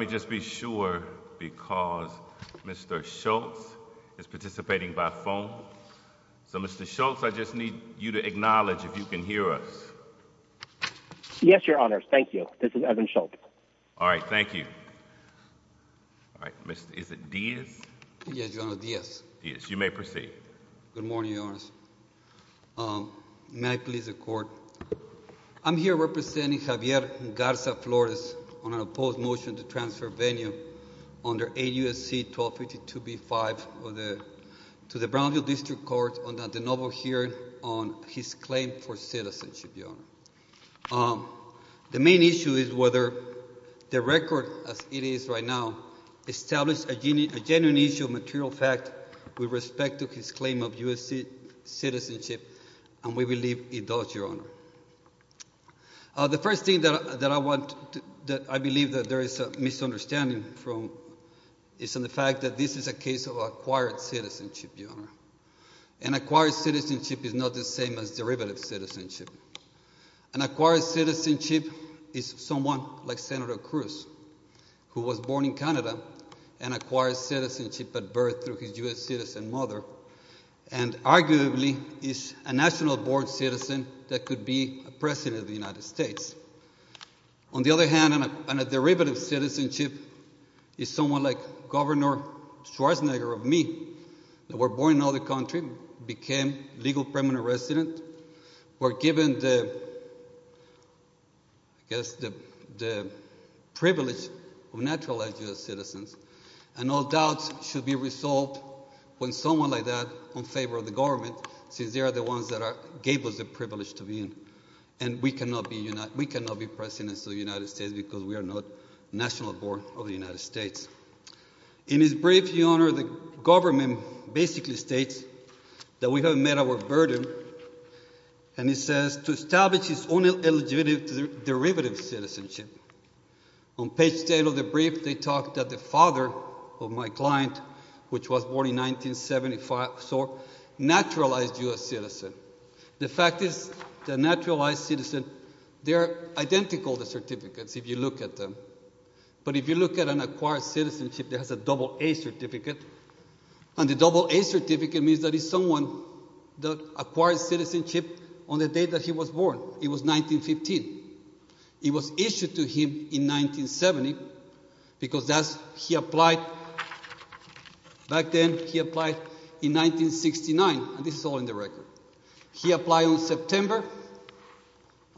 Let me just be sure because Mr. Schultz is participating by phone. So Mr. Schultz, I just need you to acknowledge if you can hear us. Yes, Your Honors. Thank you. This is Evan Schultz. All right. Thank you. All right. Is it Diaz? Yes, Your Honor. Diaz. Diaz. You may proceed. Good morning, Your Honors. May I please accord? I'm here representing Javier Garza-Flores on an opposed motion to transfer Venya under 8 U.S.C. 1252b-5 to the Brownsville District Court under the novel hearing on his claim for citizenship, Your Honor. The main issue is whether the record as it is right now establishes a genuine issue of citizenship. The first thing that I believe that there is a misunderstanding from is in the fact that this is a case of acquired citizenship, Your Honor. And acquired citizenship is not the same as derivative citizenship. An acquired citizenship is someone like Senator Cruz who was born in Canada and acquired citizenship at birth through his U.S. citizen mother and arguably is a national born citizen that could be a president of the United States. On the other hand, a derivative citizenship is someone like Governor Schwarzenegger of me that was born in another country, became legal permanent resident, were given the privilege of naturalized U.S. citizens, and all doubts should be resolved when someone like that is on favor of the government since they are the ones that gave us the privilege to be in. And we cannot be presidents of the United States because we are not national born of the United States. In his brief, Your Honor, the government basically states that we have met our burden and it says to establish its own eligible derivative citizenship. On page 10 of the brief, they talk that the father of my client, which was born in 1975, so naturalized U.S. citizen. The fact is the naturalized citizen, they are identical, the certificates, if you look at them. But if you look at an acquired citizenship that has a double A certificate, and the double A certificate means that it's someone that acquired citizenship on the day that he was born. It was 1915. It was issued to him in 1970 because that's, he applied, back then he applied in 1969, and this is all in the record. He applied on September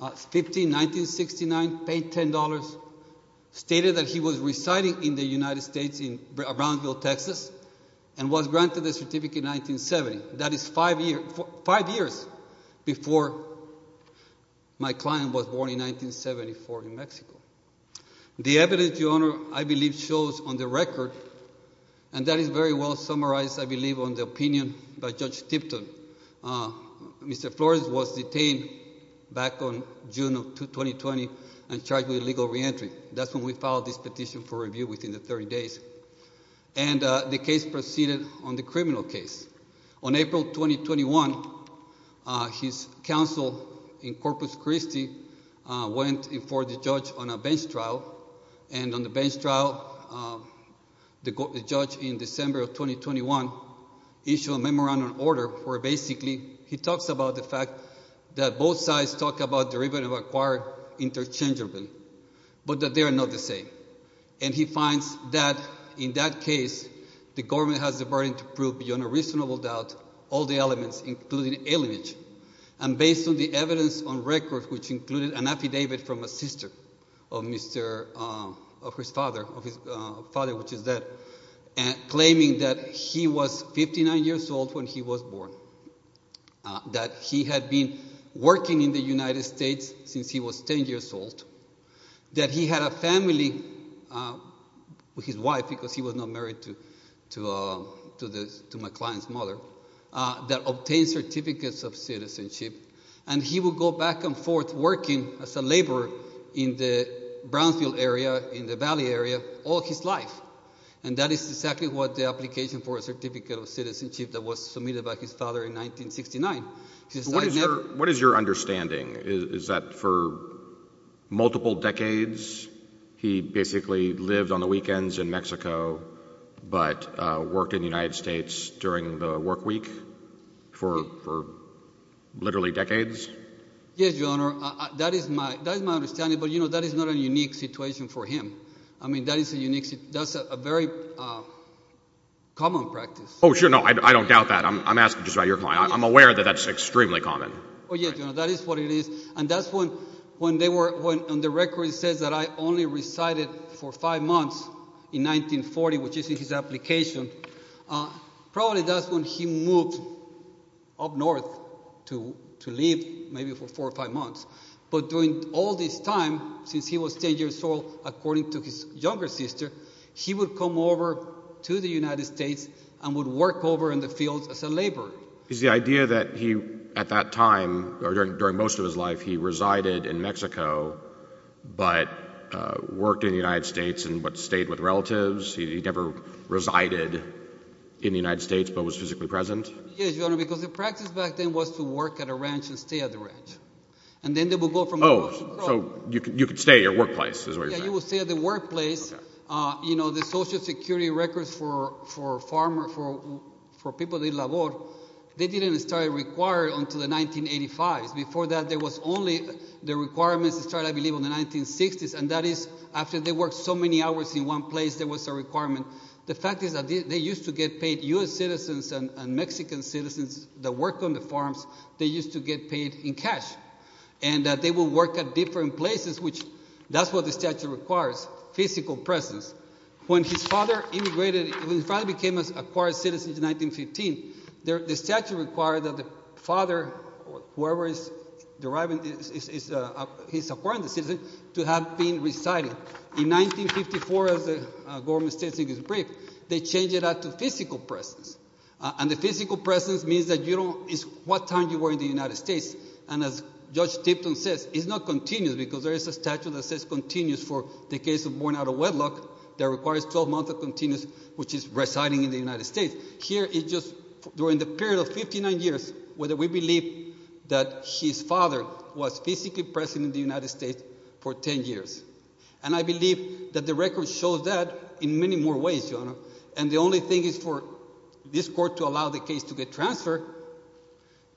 15, 1969, paid $10, stated that he was residing in the United States in Brownsville, Texas, and was granted the certificate in 1970. That is five years before my client was born in 1974 in Mexico. The evidence, Your Honor, I believe shows on the record, and that is very well summarized, I believe, on the opinion by Judge Tipton. Mr. Flores was detained back on June of 2020 and charged with illegal reentry. That's when we filed this petition for review within the 30 days. And the case proceeded on the criminal case. On April 2021, his counsel in Corpus Christi went before the judge on a bench trial, and on the bench trial, the judge in December of 2021 issued a memorandum of order where basically he talks about the fact that both sides talk about derivative acquired interchangeably, but that they are not the same. And he finds that in that case, the government has the burden to prove beyond a reasonable doubt all the elements, including alienage, and based on the evidence on record, which included an affidavit from a sister of his father, of his father, which is dead, claiming that he was 59 years old when he was born, that he had been working in the United States since he was 10 years old, that he had a family with his wife because he was not married to my client's mother, that obtained certificates of citizenship, and he would go back and forth working as a laborer in the Brownsville area, in the Valley area, all his life. And that is exactly what the application for a certificate of citizenship that was submitted by his father in 1969. What is your understanding? Is that for multiple decades, he basically lived on the weekends in Mexico, but worked in the United States during the work week for literally decades? Yes, Your Honor, that is my understanding, but you know, that is not a unique situation for him. I mean, that is a unique, that's a very common practice. Oh, sure. No, I don't doubt that. I'm asking just about your client. I'm aware that that's extremely common. Oh, yes, Your Honor, that is what it is. And that's when they were, when the record says that I only resided for five months in 1940, which is in his application, probably that's when he moved up north to live maybe for four or five months. But during all this time, since he was 10 years old, according to his younger sister, he would come over to the United States and would work over in the fields as a laborer. Is the idea that he, at that time, or during most of his life, he resided in Mexico, but worked in the United States and stayed with relatives? He never resided in the United States, but was physically present? Yes, Your Honor, because the practice back then was to work at a ranch and stay at the ranch. And then they would go from- Oh, so you could stay at your workplace, is what you're saying. Yeah, you would stay at the workplace. You know, the social security records for farmer, for people that labor, they didn't start required until the 1985s. Before that, there was only the requirements that started, I believe, in the 1960s. And that is, after they worked so many hours in one place, there was a requirement. The fact is that they used to get paid, U.S. citizens and Mexican citizens that worked on the farms, they used to get paid in cash. And they would work at different places, which, that's what the statute requires, physical presence. When his father immigrated, when his father became an acquired citizen in 1915, the statute required that the father, whoever is deriving, he's acquiring the citizen, to have been residing. In 1954, as the government states in this brief, they changed it out to physical presence. And the physical presence means that you don't, it's what time you were in the United States. And as Judge Tipton says, it's not continuous, because there is a statute that says continuous for the case of born out of wedlock that requires 12 months of continuous, which is residing in the United States. Here, it's just during the period of 59 years, whether we believe that his father was physically present in the United States for 10 years. And I believe that the record shows that in many more ways, Your Honor. And the only thing is for this court to allow the case to get transferred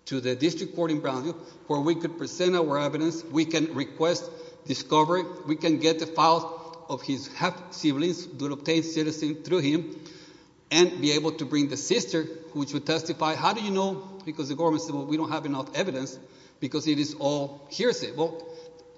to the district court in Brownsville, where we could present our evidence, we can request discovery, we can get the files of his half-siblings to obtain citizen through him, and be able to bring the sister, which would testify. How do you know? Because the government said, well, we don't have enough evidence, because it is all hearsay. Well,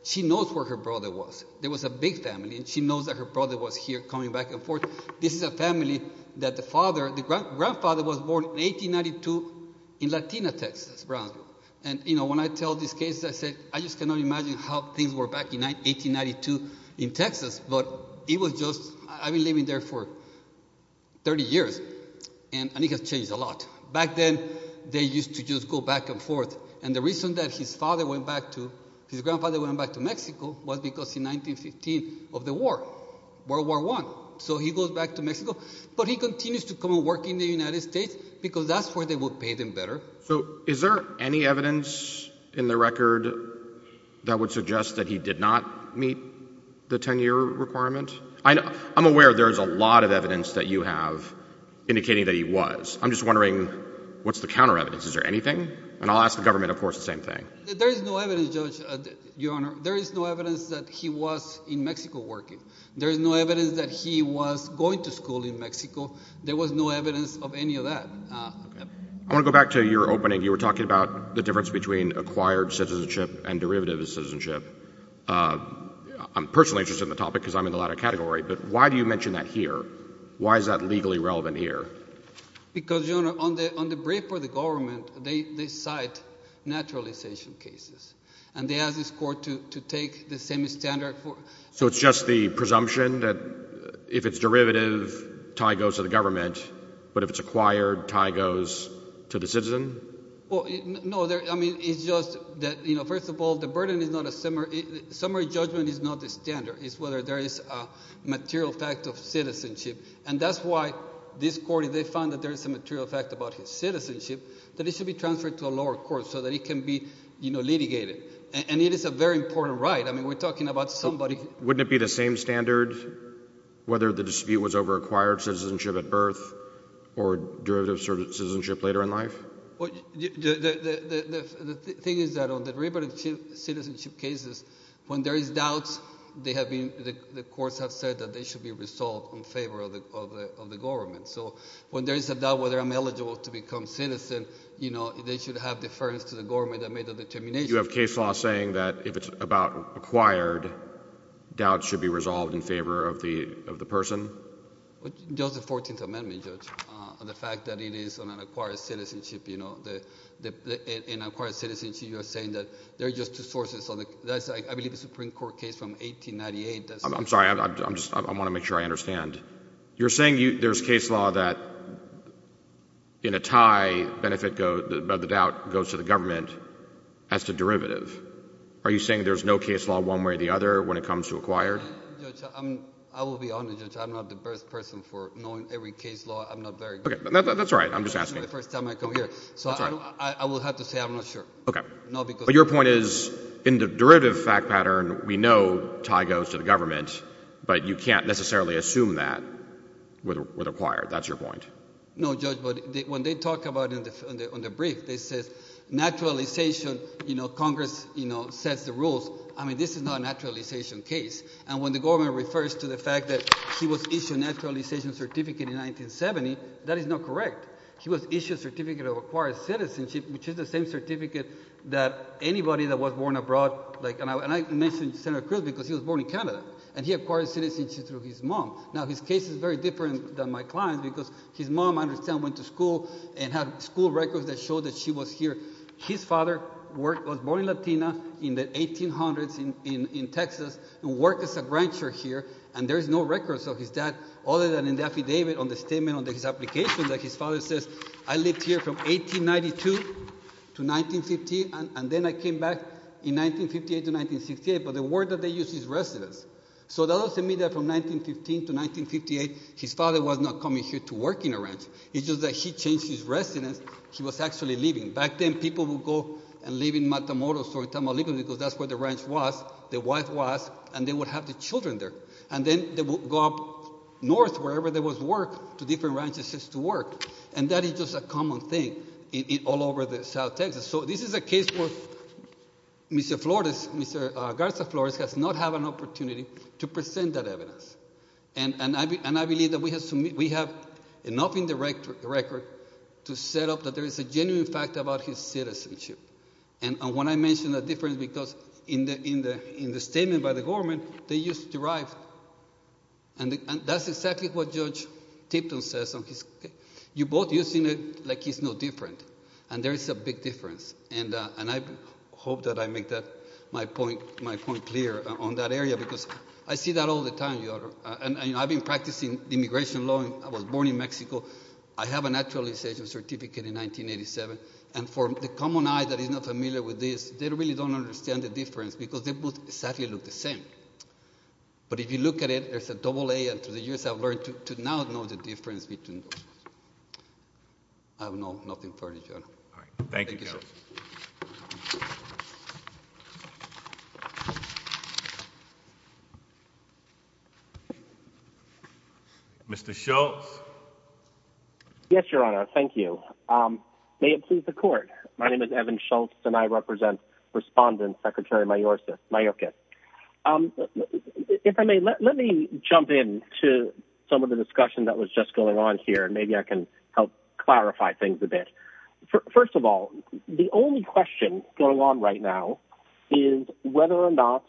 she knows where her brother was. There was a big family, and she knows that her brother was here, coming back and forth. This is a family that the father, the grandfather was born in 1892 in Latina, Texas, Brownsville. And, you know, when I tell these cases, I say, I just cannot imagine how things were back in 1892 in Texas. But it was just, I've been living there for 30 years, and it has changed a lot. Back then, they used to just go back and forth. And the reason that his father went back to, his grandfather went back to Mexico was because in 1915 of the war, World War I. So he goes back to Mexico. But he continues to come and work in the United States, because that's where they would pay them better. So is there any evidence in the record that would suggest that he did not meet the 10-year requirement? I know, I'm aware there's a lot of evidence that you have indicating that he was. I'm just wondering, what's the counter evidence? Is there anything? And I'll ask the government, of course, the same thing. There is no evidence, Judge, Your Honor. There is no evidence that he was in Mexico working. There is no evidence that he was going to school in Mexico. There was no evidence of any of that. I want to go back to your opening. You were talking about the difference between acquired citizenship and derivative citizenship. I'm personally interested in the topic, because I'm in the latter category. But why do you mention that here? Why is that legally relevant here? Because Your Honor, on the brief for the government, they cite naturalization cases. And they ask this court to take the same standard. So it's just the presumption that if it's derivative, tie goes to the government. But if it's acquired, tie goes to the citizen? Well, no. I mean, it's just that, first of all, the burden is not a summary. Summary judgment is not the standard. It's whether there is a material fact of citizenship. And that's why this court, if they found that there is a material fact about his citizenship, that it should be transferred to a lower court so that it can be litigated. And it is a very important right. I mean, we're talking about somebody. Wouldn't it be the same standard whether the dispute was over acquired citizenship at birth or derivative citizenship later in life? Well, the thing is that on the derivative citizenship cases, when there is doubt, they have been, the courts have said that they should be resolved in favor of the government. So when there is a doubt whether I'm eligible to become citizen, you know, they should have deference to the government that made the determination. You have case law saying that if it's about acquired, doubt should be resolved in favor of the person? Just the 14th Amendment, Judge, and the fact that it is on an acquired citizenship, you know. In acquired citizenship, you are saying that there are just two sources. That's, I believe, a Supreme Court case from 1898. I'm sorry. I'm just, I want to make sure I understand. You're saying there's case law that in a tie, benefit of the doubt goes to the government as to derivative. Are you saying there's no case law one way or the other when it comes to acquired? I'm sorry, Judge. I will be honest, Judge. I'm not the best person for knowing every case law. I'm not very good. Okay. That's all right. I'm just asking. This is the first time I come here. That's all right. So I will have to say I'm not sure. Okay. But your point is in the derivative fact pattern, we know tie goes to the government, but you can't necessarily assume that with acquired. That's your point. No, Judge. But when they talk about it on the brief, they say naturalization, you know, Congress, you know, sets the rules. I mean, this is not a naturalization case. And when the government refers to the fact that he was issued a naturalization certificate in 1970, that is not correct. He was issued a certificate of acquired citizenship, which is the same certificate that anybody that was born abroad, like, and I mentioned Senator Cruz because he was born in Canada, and he acquired citizenship through his mom. Now, his case is very different than my client's because his mom, I understand, went to school and had school records that showed that she was here. His father worked, was born in Latina in the 1800s in Texas and worked as a rancher here, and there is no records of his dad other than in the affidavit on the statement on his application that his father says, I lived here from 1892 to 1950, and then I came back in 1958 to 1968. But the word that they use is residence. So that doesn't mean that from 1915 to 1958, his father was not coming here to work in a ranch. It's just that he changed his residence. He was actually living. Back then, people would go and live in Matamoros or in Tamaulipas because that's where the ranch was, the wife was, and they would have the children there. And then they would go up north wherever there was work to different ranches just to work. And that is just a common thing all over the South Texas. So this is a case where Mr. Flores, Mr. Garza Flores, has not had an opportunity to present that evidence. And I believe that we have enough in the record to set up that there is a genuine fact that he's talking about his citizenship. And when I mention that difference, because in the statement by the government, they used to derive, and that's exactly what Judge Tipton says on his case. You're both using it like he's no different. And there is a big difference. And I hope that I make that, my point clear on that area because I see that all the time. And I've been practicing immigration law, I was born in Mexico, I have a naturalization certificate in 1987. And for the common eye that is not familiar with this, they really don't understand the difference because they both exactly look the same. But if you look at it, there's a double A, and to the U.S. I've learned to now know the difference between those. I have nothing further, Your Honor. Thank you, Judge. Mr. Schultz. Yes, Your Honor. Thank you. May it please the Court. My name is Evan Schultz, and I represent Respondent Secretary Mayorkas. If I may, let me jump in to some of the discussion that was just going on here, and maybe I can help clarify things a bit. First of all, the only question going on right now is whether or not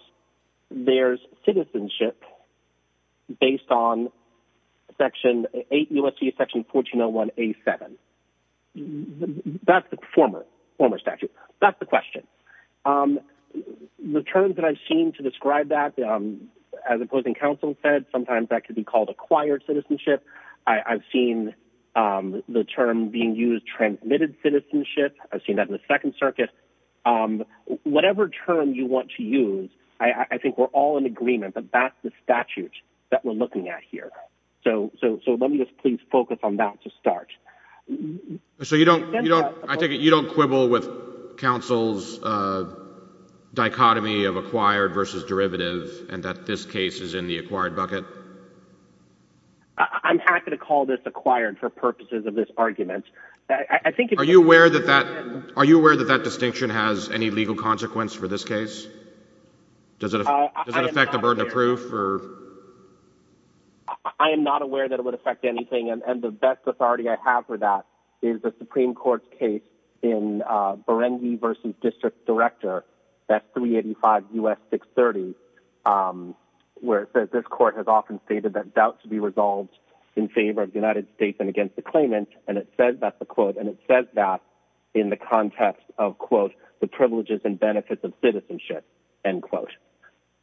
there's citizenship based on Section 8 U.S.C. Section 1401A7. That's the former statute. That's the question. The terms that I've seen to describe that, as Opposing Counsel said, sometimes that can be called acquired citizenship. I've seen the term being used, transmitted citizenship, I've seen that in the Second Circuit. But whatever term you want to use, I think we're all in agreement that that's the statute that we're looking at here. So let me just please focus on that to start. So you don't quibble with counsel's dichotomy of acquired versus derivative, and that this case is in the acquired bucket? I'm happy to call this acquired for purposes of this argument. Are you aware that that distinction has any legal consequence for this case? Does it affect the burden of proof? I am not aware that it would affect anything, and the best authority I have for that is the Supreme Court's case in Berengi v. District Director, S. 385 U.S. 630, where it says this court has often stated that doubt should be resolved in favor of the United States and against the claimant, and it says that in the context of, quote, the privileges and benefits of citizenship, end quote.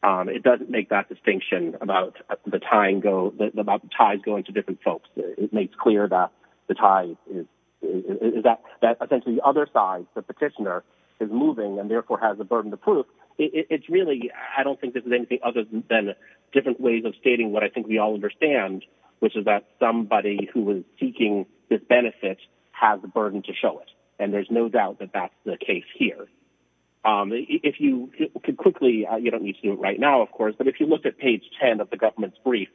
It doesn't make that distinction about the ties going to different folks. It makes clear that the tie is...that essentially the other side, the petitioner, is moving and therefore has a burden of proof. It's really...I don't think this is anything other than different ways of stating what I think we all understand, which is that somebody who is seeking this benefit has the burden to show it, and there's no doubt that that's the case here. If you could quickly...you don't need to do it right now, of course, but if you look at page 10 of the government's brief,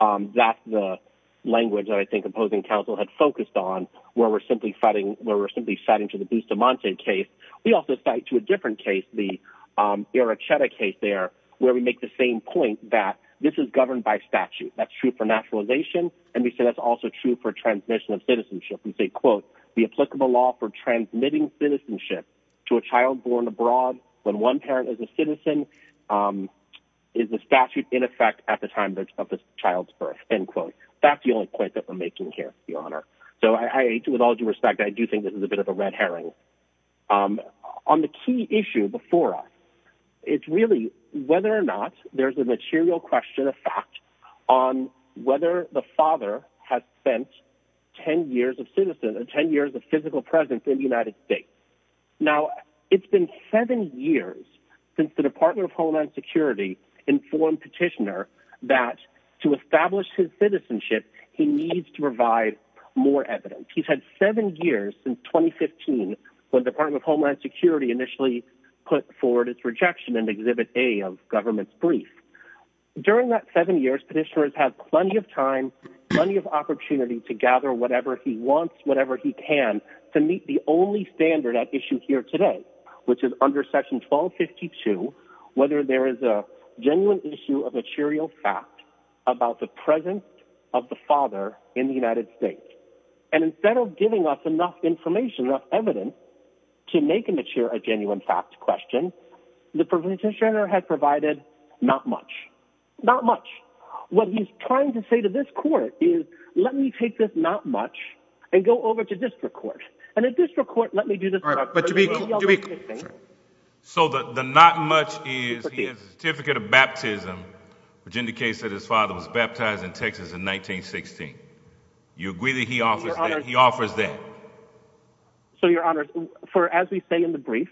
that's the language that I think opposing counsel had focused on, where we're simply citing...where we're simply citing to the Bustamante case. We also cite to a different case, the Irocheta case there, where we make the same point that this is governed by statute. That's true for naturalization, and we say that's also true for transmission of citizenship. We say, quote, the applicable law for transmitting citizenship to a child born abroad when one parent is a citizen is the statute in effect at the time of the child's birth, end quote. That's the only point that we're making here, Your Honor. So I...with all due respect, I do think this is a bit of a red herring. So on the key issue before us, it's really whether or not there's a material question of fact on whether the father has spent 10 years of citizen...10 years of physical presence in the United States. Now it's been seven years since the Department of Homeland Security informed Petitioner that to establish his citizenship, he needs to provide more evidence. He's had seven years since 2015 when the Department of Homeland Security initially put forward its rejection in Exhibit A of government's brief. During that seven years, Petitioner has had plenty of time, plenty of opportunity to gather whatever he wants, whatever he can to meet the only standard at issue here today, which is under Section 1252, whether there is a genuine issue of material fact about the presence of the father in the United States. And instead of giving us enough information, enough evidence to make a mature, a genuine fact question, the Petitioner has provided not much, not much. What he's trying to say to this court is, let me take this not much and go over to district court. And at district court, let me do this... All right, but to be clear... So the not much is he has a certificate of baptism, which indicates that his father was baptized in Texas in 1916. You agree that he offers that? He offers that? So, Your Honor, for as we say in the brief,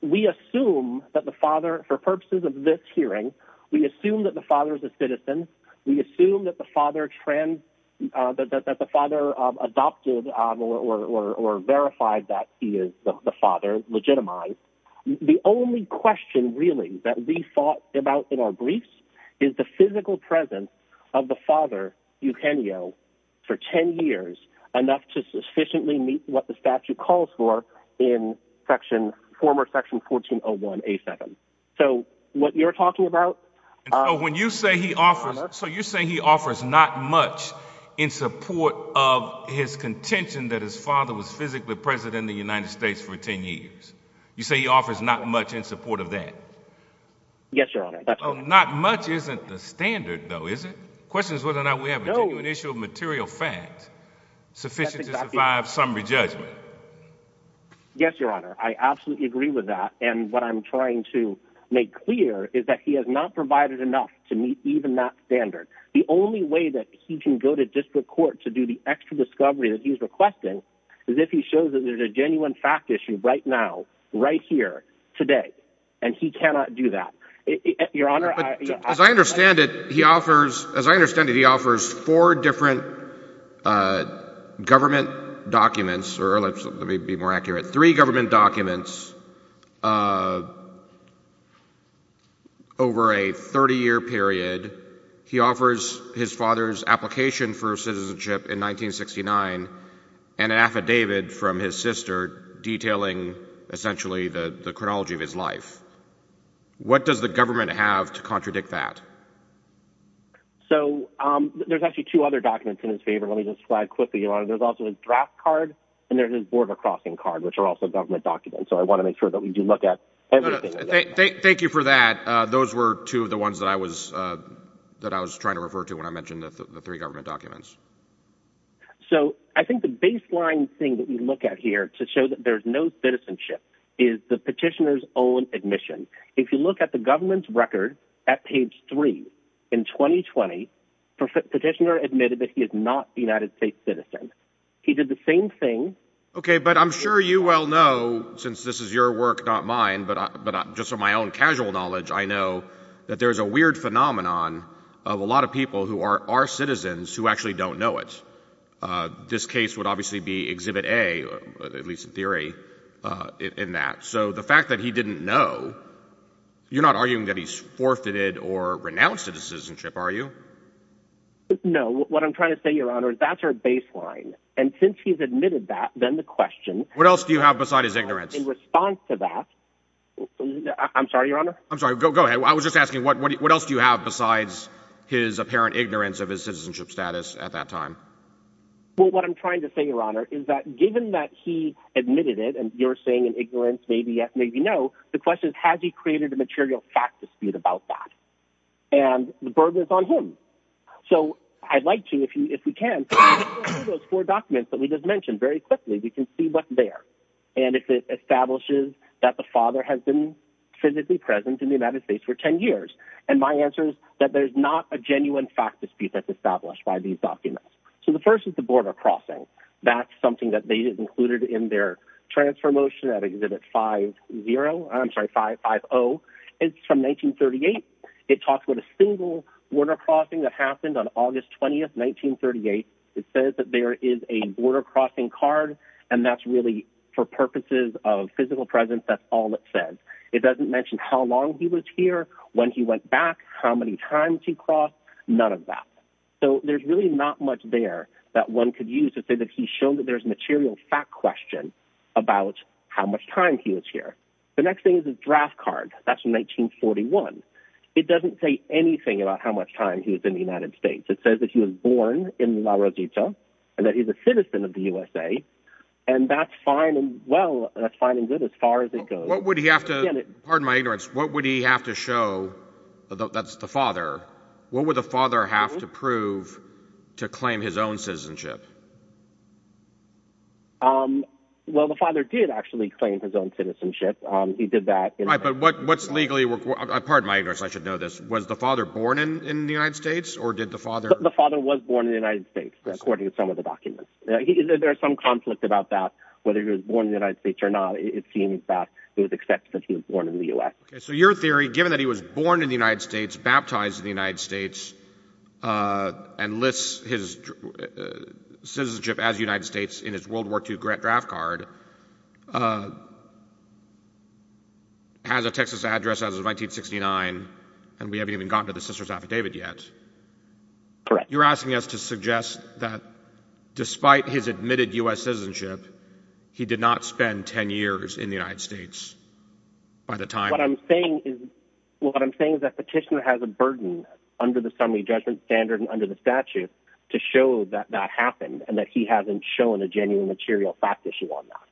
we assume that the father, for purposes of this hearing, we assume that the father is a citizen. We assume that the father adopted or verified that he is the father, legitimized. The only question really that we thought about in our briefs is the physical presence of the father, Eugenio, for 10 years, enough to sufficiently meet what the statute calls for in section, former section 1401A7. So what you're talking about... When you say he offers... So you're saying he offers not much in support of his contention that his father was physically present in the United States for 10 years. You say he offers not much in support of that? Yes, Your Honor. Not much isn't the standard, though, is it? Question is whether or not we have a genuine issue of material facts sufficient to survive some re-judgment. Yes, Your Honor. I absolutely agree with that. And what I'm trying to make clear is that he has not provided enough to meet even that standard. The only way that he can go to district court to do the extra discovery that he's requesting is if he shows that there's a genuine fact issue right now, right here, today. And he cannot do that. Your Honor, I... As I understand it, he offers four different government documents, or let me be more accurate, three government documents over a 30-year period. He offers his father's application for citizenship in 1969 and an affidavit from his sister detailing essentially the chronology of his life. What does the government have to contradict that? So there's actually two other documents in his favor. Let me just flag quickly, Your Honor. There's also his draft card and there's his border crossing card, which are also government documents. So I want to make sure that we do look at everything. Thank you for that. Those were two of the ones that I was trying to refer to when I mentioned the three government documents. So, I think the baseline thing that we look at here to show that there's no citizenship is the petitioner's own admission. If you look at the government's record at page three, in 2020, the petitioner admitted that he is not a United States citizen. He did the same thing... Okay, but I'm sure you well know, since this is your work, not mine, but just from my own casual knowledge, I know that there's a weird phenomenon of a lot of people who are citizens who actually don't know it. This case would obviously be Exhibit A, at least in theory, in that. So the fact that he didn't know, you're not arguing that he's forfeited or renounced citizenship, are you? What I'm trying to say, Your Honor, is that's our baseline. And since he's admitted that, then the question... What else do you have besides his ignorance? In response to that... I'm sorry, Your Honor? I'm sorry. Go ahead. I was just asking what else do you have besides his apparent ignorance of his citizenship status at that time? Well, what I'm trying to say, Your Honor, is that given that he admitted it, and you're saying in ignorance, maybe yes, maybe no, the question is, has he created a material fact dispute about that? And the burden is on him. So I'd like to, if we can, go through those four documents that we just mentioned very quickly, we can see what's there, and if it establishes that the father has been physically present in the United States for 10 years. And my answer is that there's not a genuine fact dispute that's established by these documents. So the first is the border crossing. That's something that they included in their transfer motion at Exhibit 50. I'm sorry, 550. It's from 1938. It talks about a single border crossing that happened on August 20th, 1938. It says that there is a border crossing card, and that's really for purposes of physical presence. That's all it says. It doesn't mention how long he was here, when he went back, how many times he crossed, none of that. So there's really not much there that one could use to say that he showed that there's a material fact question about how much time he was here. The next thing is his draft card. That's from 1941. It doesn't say anything about how much time he was in the United States. It says that he was born in La Rochita, and that he's a citizen of the USA, and that's fine and good as far as it goes. What would he have to—pardon my ignorance—what would he have to show—that's the father—what would the father have to prove to claim his own citizenship? Well, the father did actually claim his own citizenship. He did that— Right, but what's legally—pardon my ignorance, I should know this—was the father born in the United States, or did the father— The father was born in the United States, according to some of the documents. There's some conflict about that, whether he was born in the United States or not. It seems that it was accepted that he was born in the U.S. Okay, so your theory, given that he was born in the United States, baptized in the United States, and lists his citizenship as a United States in his World War II draft card, has a Texas address as of 1969, and we haven't even gotten to the sister's affidavit yet. Correct. You're asking us to suggest that despite his admitted U.S. citizenship, he did not spend 10 years in the United States by the time— What I'm saying is that Petitioner has a burden under the Summary Judgment Standard and under the statute to show that that happened, and that he hasn't shown a genuine material fact issue on that.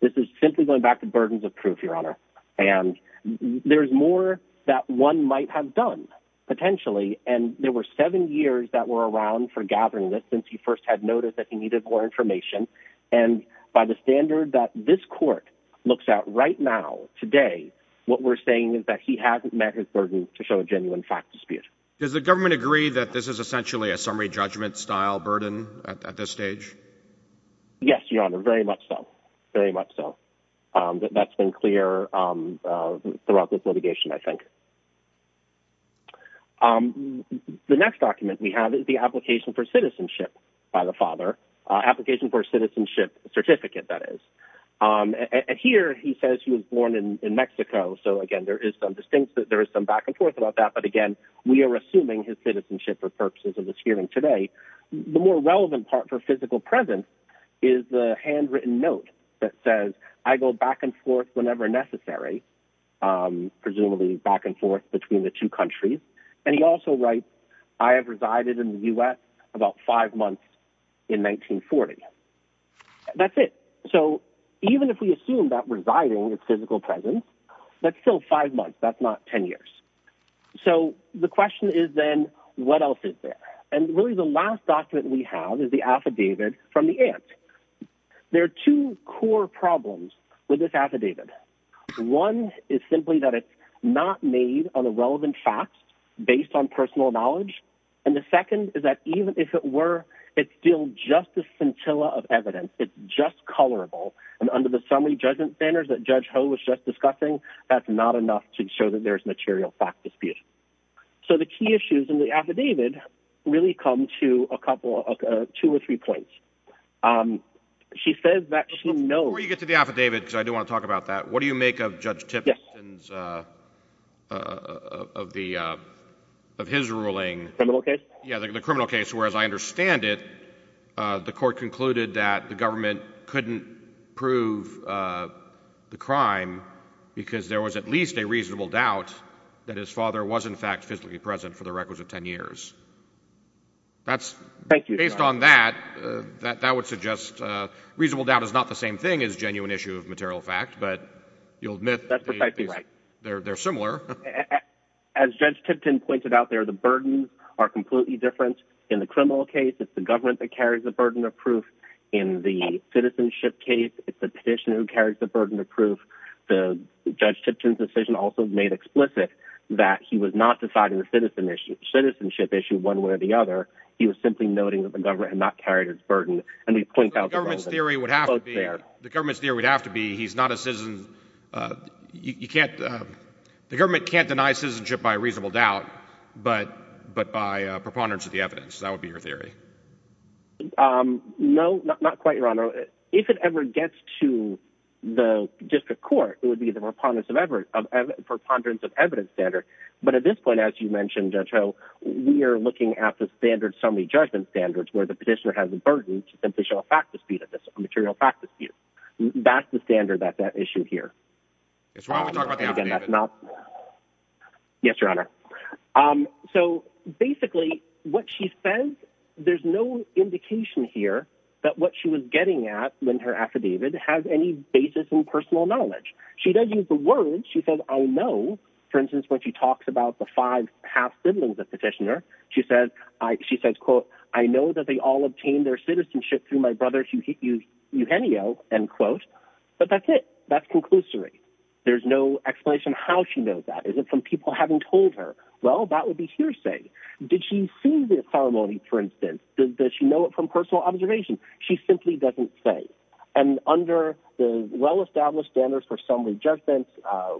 This is simply going back to burdens of proof, Your Honor, and there's more that one might have done, potentially, and there were seven years that were around for gathering this since he first had noticed that he needed more information, and by the standard that this court looks at right now, today, what we're saying is that he hasn't met his burden to show a genuine fact dispute. Does the government agree that this is essentially a summary judgment-style burden at this stage? Yes, Your Honor, very much so, very much so. That's been clear throughout this litigation, I think. The next document we have is the Application for Citizenship by the father—Application for Citizenship Certificate, that is—and here he says he was born in Mexico, so again, there is some back and forth about that, but again, we are assuming his citizenship for purposes of this hearing today. The more relevant part for physical presence is the handwritten note that says, I go back and forth whenever necessary, presumably back and forth between the two countries, and he also writes, I have resided in the U.S. about five months in 1940. That's it. So even if we assume that residing is physical presence, that's still five months, that's not ten years. So the question is then, what else is there? And really the last document we have is the Affidavit from the aunt. There are two core problems with this affidavit. One is simply that it's not made on a relevant fact based on personal knowledge, and the second is that even if it were, it's still just a scintilla of evidence, it's just colorable, and under the summary judgment standards that Judge Ho was just discussing, that's not enough to show that there's material fact dispute. So the key issues in the affidavit really come to two or three points. Before you get to the affidavit, because I do want to talk about that, what do you make of Judge Tipton's, of his ruling, the criminal case, where as I understand it, the court concluded that the government couldn't prove the crime because there was at least a reasonable doubt that his father was in fact physically present for the requisite ten years. Based on that, that would suggest reasonable doubt is not the same thing as genuine issue of material fact, but you'll admit they're similar. As Judge Tipton pointed out there, the burdens are completely different. In the criminal case, it's the government that carries the burden of proof. In the citizenship case, it's the petitioner who carries the burden of proof. Judge Tipton's decision also made explicit that he was not deciding the citizenship issue one way or the other. He was simply noting that the government had not carried its burden. The government's theory would have to be he's not a citizen. The government can't deny citizenship by reasonable doubt, but by preponderance of the evidence. No, not quite, Your Honor. If it ever gets to the district court, it would be the preponderance of evidence standard, but at this point, as you mentioned, Judge Ho, we are looking at the standard summary judgment standards where the petitioner has the burden to simply show a fact dispute, a material fact dispute. That's the standard that's at issue here. That's why we're talking about the evidence. Yes, Your Honor. So basically, what she says, there's no indication here that what she was getting at when her affidavit has any basis in personal knowledge. She doesn't use the word. She says, I know. For instance, when she talks about the five half siblings of the petitioner, she says, she says, quote, I know that they all obtained their citizenship through my brother Eugenio, end quote. But that's it. That's conclusory. There's no explanation how she knows that. Is it from people having told her? Well, that would be hearsay. Did she see the ceremony, for instance? Does she know it from personal observation? She simply doesn't say. And under the well-established standards for summary judgments,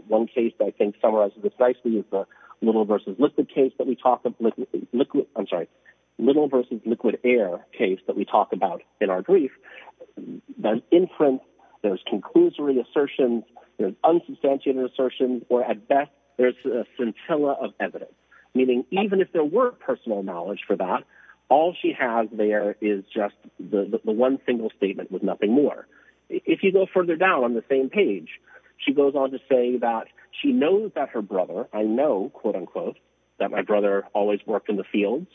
one case I think summarizes precisely is the little versus liquid case that we talk about, liquid, I'm sorry, little versus liquid air case that we talk about in our brief. There's inference, there's conclusory assertions, there's unsubstantiated assertions, or at best, there's a scintilla of evidence. Meaning, even if there were personal knowledge for that, all she has there is just the one single statement with nothing more. If you go further down on the same page, she goes on to say that she knows that her brother, I know, quote unquote, that my brother always worked in the fields,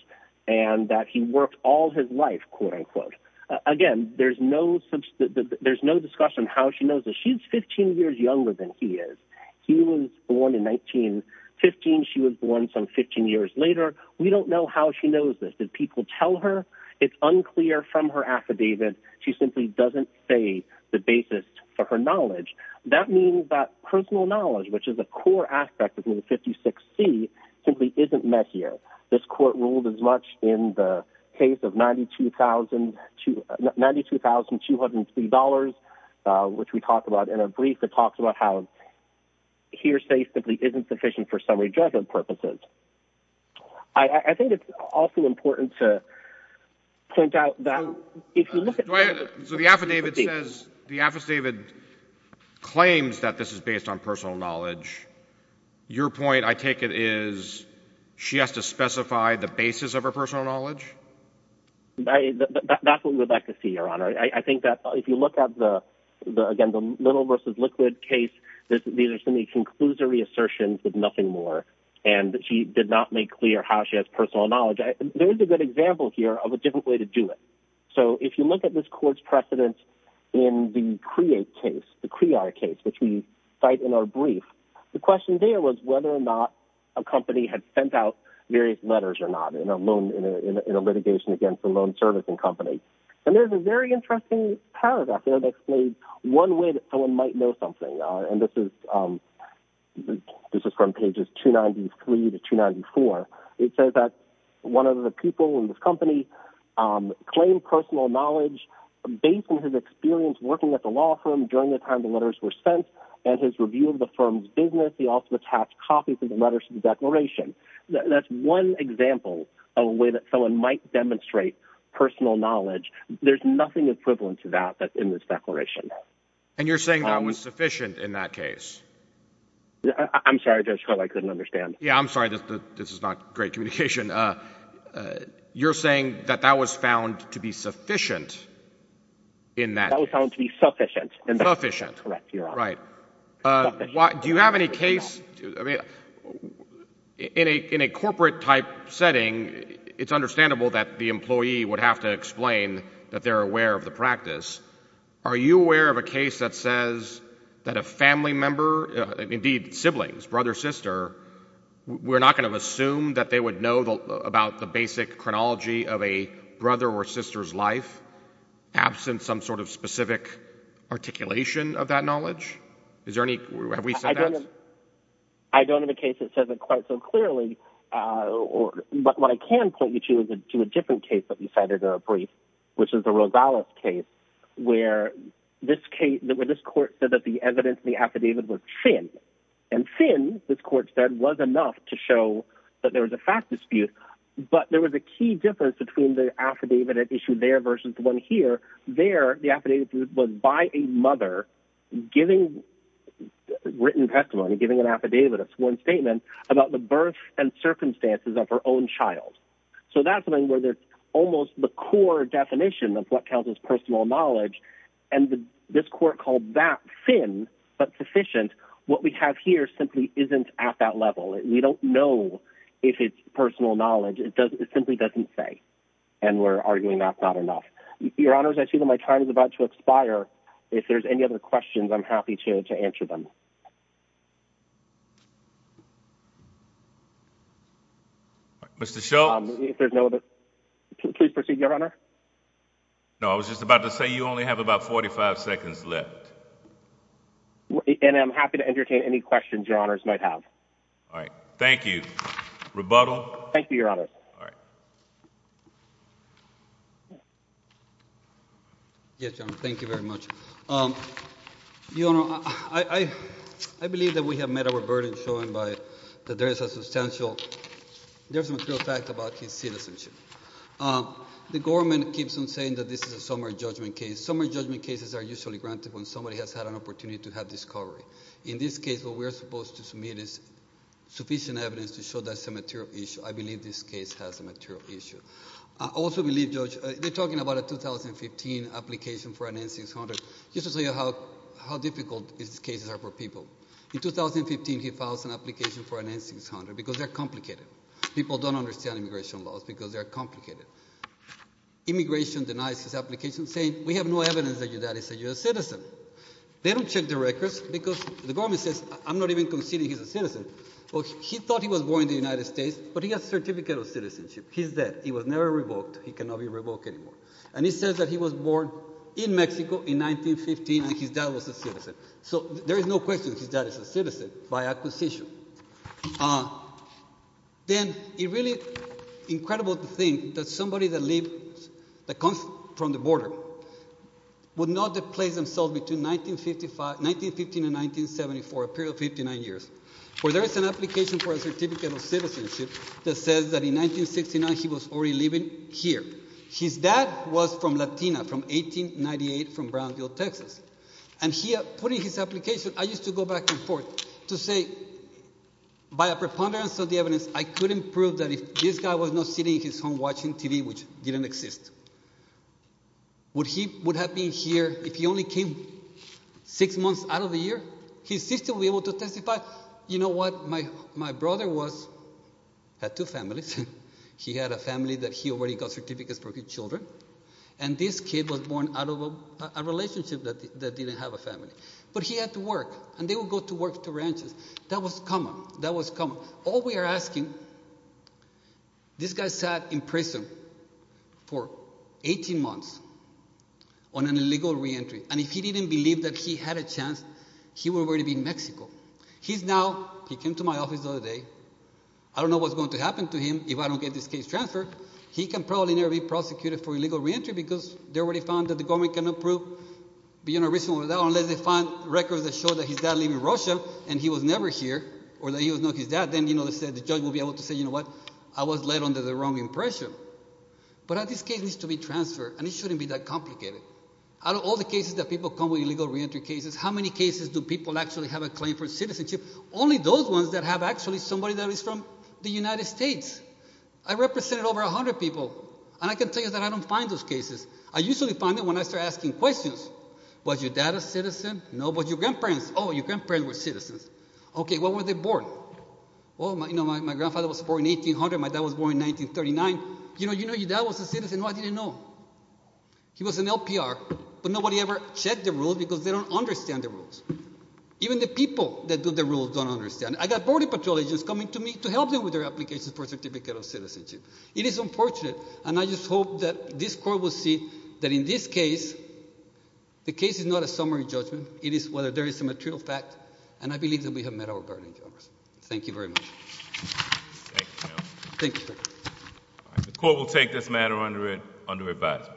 and that he worked all his life, quote unquote. Again, there's no discussion how she knows this. She's 15 years younger than he is. He was born in 1915. She was born some 15 years later. We don't know how she knows this. Did people tell her? It's unclear from her affidavit. She simply doesn't say the basis for her knowledge. That means that personal knowledge, which is a core aspect of Rule 56C, simply isn't met here. This Court ruled as much in the case of $92,203, which we talked about in a brief that talks about how hearsay simply isn't sufficient for summary judgment purposes. I think it's also important to point out that if you look at — So the affidavit says — the affidavit claims that this is based on personal knowledge. Your point, I take it, is she has to specify the basis of her personal knowledge? That's what we would like to see, Your Honor. I think that if you look at the — again, the little versus liquid case, these are some of the conclusory assertions, but nothing more, and that she did not make clear how she has personal knowledge. There is a good example here of a different way to do it. So if you look at this Court's precedence in the CREATE case, the CREAR case, which we cite in our brief, the question there was whether or not a company had sent out various letters or not in a litigation against a loan servicing company. And there's a very interesting paragraph that explains one way that someone might know something, and this is from pages 293 to 294. It says that one of the people in this company claimed personal knowledge based on his experience working at the law firm during the time the letters were sent and his review of the firm's business. He also attached copies of the letters to the declaration. That's one example of a way that someone might demonstrate personal knowledge. There's nothing equivalent to that in this declaration. And you're saying that was sufficient in that case? I'm sorry, Judge Carlin, I couldn't understand. Yeah, I'm sorry. This is not great communication. You're saying that that was found to be sufficient in that case? Sufficient. Correct, Your Honor. Right. Do you have any case, I mean, in a corporate type setting, it's understandable that the employee would have to explain that they're aware of the practice. Are you aware of a case that says that a family member, indeed siblings, brother, sister, we're not going to assume that they would know about the basic chronology of a brother or sister's life, absent some sort of specific articulation of that knowledge? Have we said that? I don't have a case that says it quite so clearly. But what I can point you to is a different case that we cited in our brief, which is the Rosales case, where this court said that the evidence in the affidavit was thin. And thin, this court said, was enough to show that there was a fact dispute. But there was a key difference between the affidavit issued there versus the one here. There, the affidavit was by a mother giving written testimony, giving an affidavit, it's one statement, about the birth and circumstances of her own child. So that's something where there's almost the core definition of what counts as personal knowledge, and this court called that thin but sufficient. What we have here simply isn't at that level. We don't know if it's personal knowledge. It simply doesn't say. And we're arguing that's not enough. Your Honors, I see that my time is about to expire. If there's any other questions, I'm happy to answer them. Mr. Schultz? If there's no other... Please proceed, Your Honor. No, I was just about to say you only have about 45 seconds left. And I'm happy to entertain any questions Your Honors might have. All right. Thank you. Rebuttal? Thank you, Your Honors. All right. Yes, Your Honor. Thank you very much. Your Honor, I believe that we have met our burden shown by that there is a substantial, there's a material fact about his citizenship. The government keeps on saying that this is a summary judgment case. Summary judgment cases are usually granted when somebody has had an opportunity to have discovery. In this case, what we're supposed to submit is sufficient evidence to show that it's a material issue. I believe this case has a material issue. I also believe, Judge, they're talking about a 2015 application for an N-600. Just to tell you how difficult these cases are for people. In 2015, he files an application for an N-600 because they're complicated. People don't understand immigration laws because they're complicated. Immigration denies his application saying, we have no evidence that you're a citizen. They don't check the records because the government says, I'm not even conceding he's a citizen. Well, he thought he was born in the United States, but he has a certificate of citizenship. He's dead. He was never revoked. He cannot be revoked anymore. And he says that he was born in Mexico in 1915 and his dad was a citizen. So there is no question his dad is a citizen by acquisition. Then, it's really incredible to think that somebody that comes from the border would not have placed themselves between 1915 and 1974, a period of 59 years, where there is an application for a certificate of citizenship that says that in 1969 he was already living here. His dad was from Latina, from 1898, from Brownsville, Texas. And he, putting his application, I used to go back and forth to say, by a preponderance of the evidence, I couldn't prove that if this guy was not sitting at his home watching TV, which didn't exist. Would he have been here if he only came six months out of the year? His sister would be able to testify. You know what? My brother had two families. He had a family that he already got certificates for his children, and this kid was born out of a relationship that didn't have a family. But he had to work, and they would go to work to ranches. That was common. That was common. All we are asking, this guy sat in prison for 18 months on an illegal reentry, and if he didn't believe that he had a chance, he would already be in Mexico. He's now, he came to my office the other day, I don't know what's going to happen to him if I don't get this case transferred. He can probably never be prosecuted for illegal reentry because they already found that the government cannot prove, you know, unless they find records that show that his dad lived in Russia and he was never here, or that he was not his dad, then, you know, the judge will be able to say, you know what, I was led under the wrong impression. But this case needs to be transferred, and it shouldn't be that complicated. Out of all the cases that people come with, illegal reentry cases, how many cases do people actually have a claim for citizenship? Only those ones that have actually somebody that is from the United States. I represented over 100 people, and I can tell you that I don't find those cases. I usually find them when I start asking questions. Was your dad a citizen? No. Was your grandparents? Oh, your grandparents were citizens. Okay, when were they born? Well, you know, my grandfather was born in 1800, my dad was born in 1939. You know, your dad was a citizen? No, I didn't know. He was an LPR, but nobody ever checked the rules because they don't understand the rules. Even the people that do the rules don't understand. I got border patrol agents coming to me to help them with their application for a certificate of citizenship. It is unfortunate, and I just hope that this court will see that in this case, the case is not a summary judgment. It is whether there is some material fact, and I believe that we have met our guard in Congress. Thank you very much. Thank you, General. Thank you, sir. All right, the court will take this matter under advisement.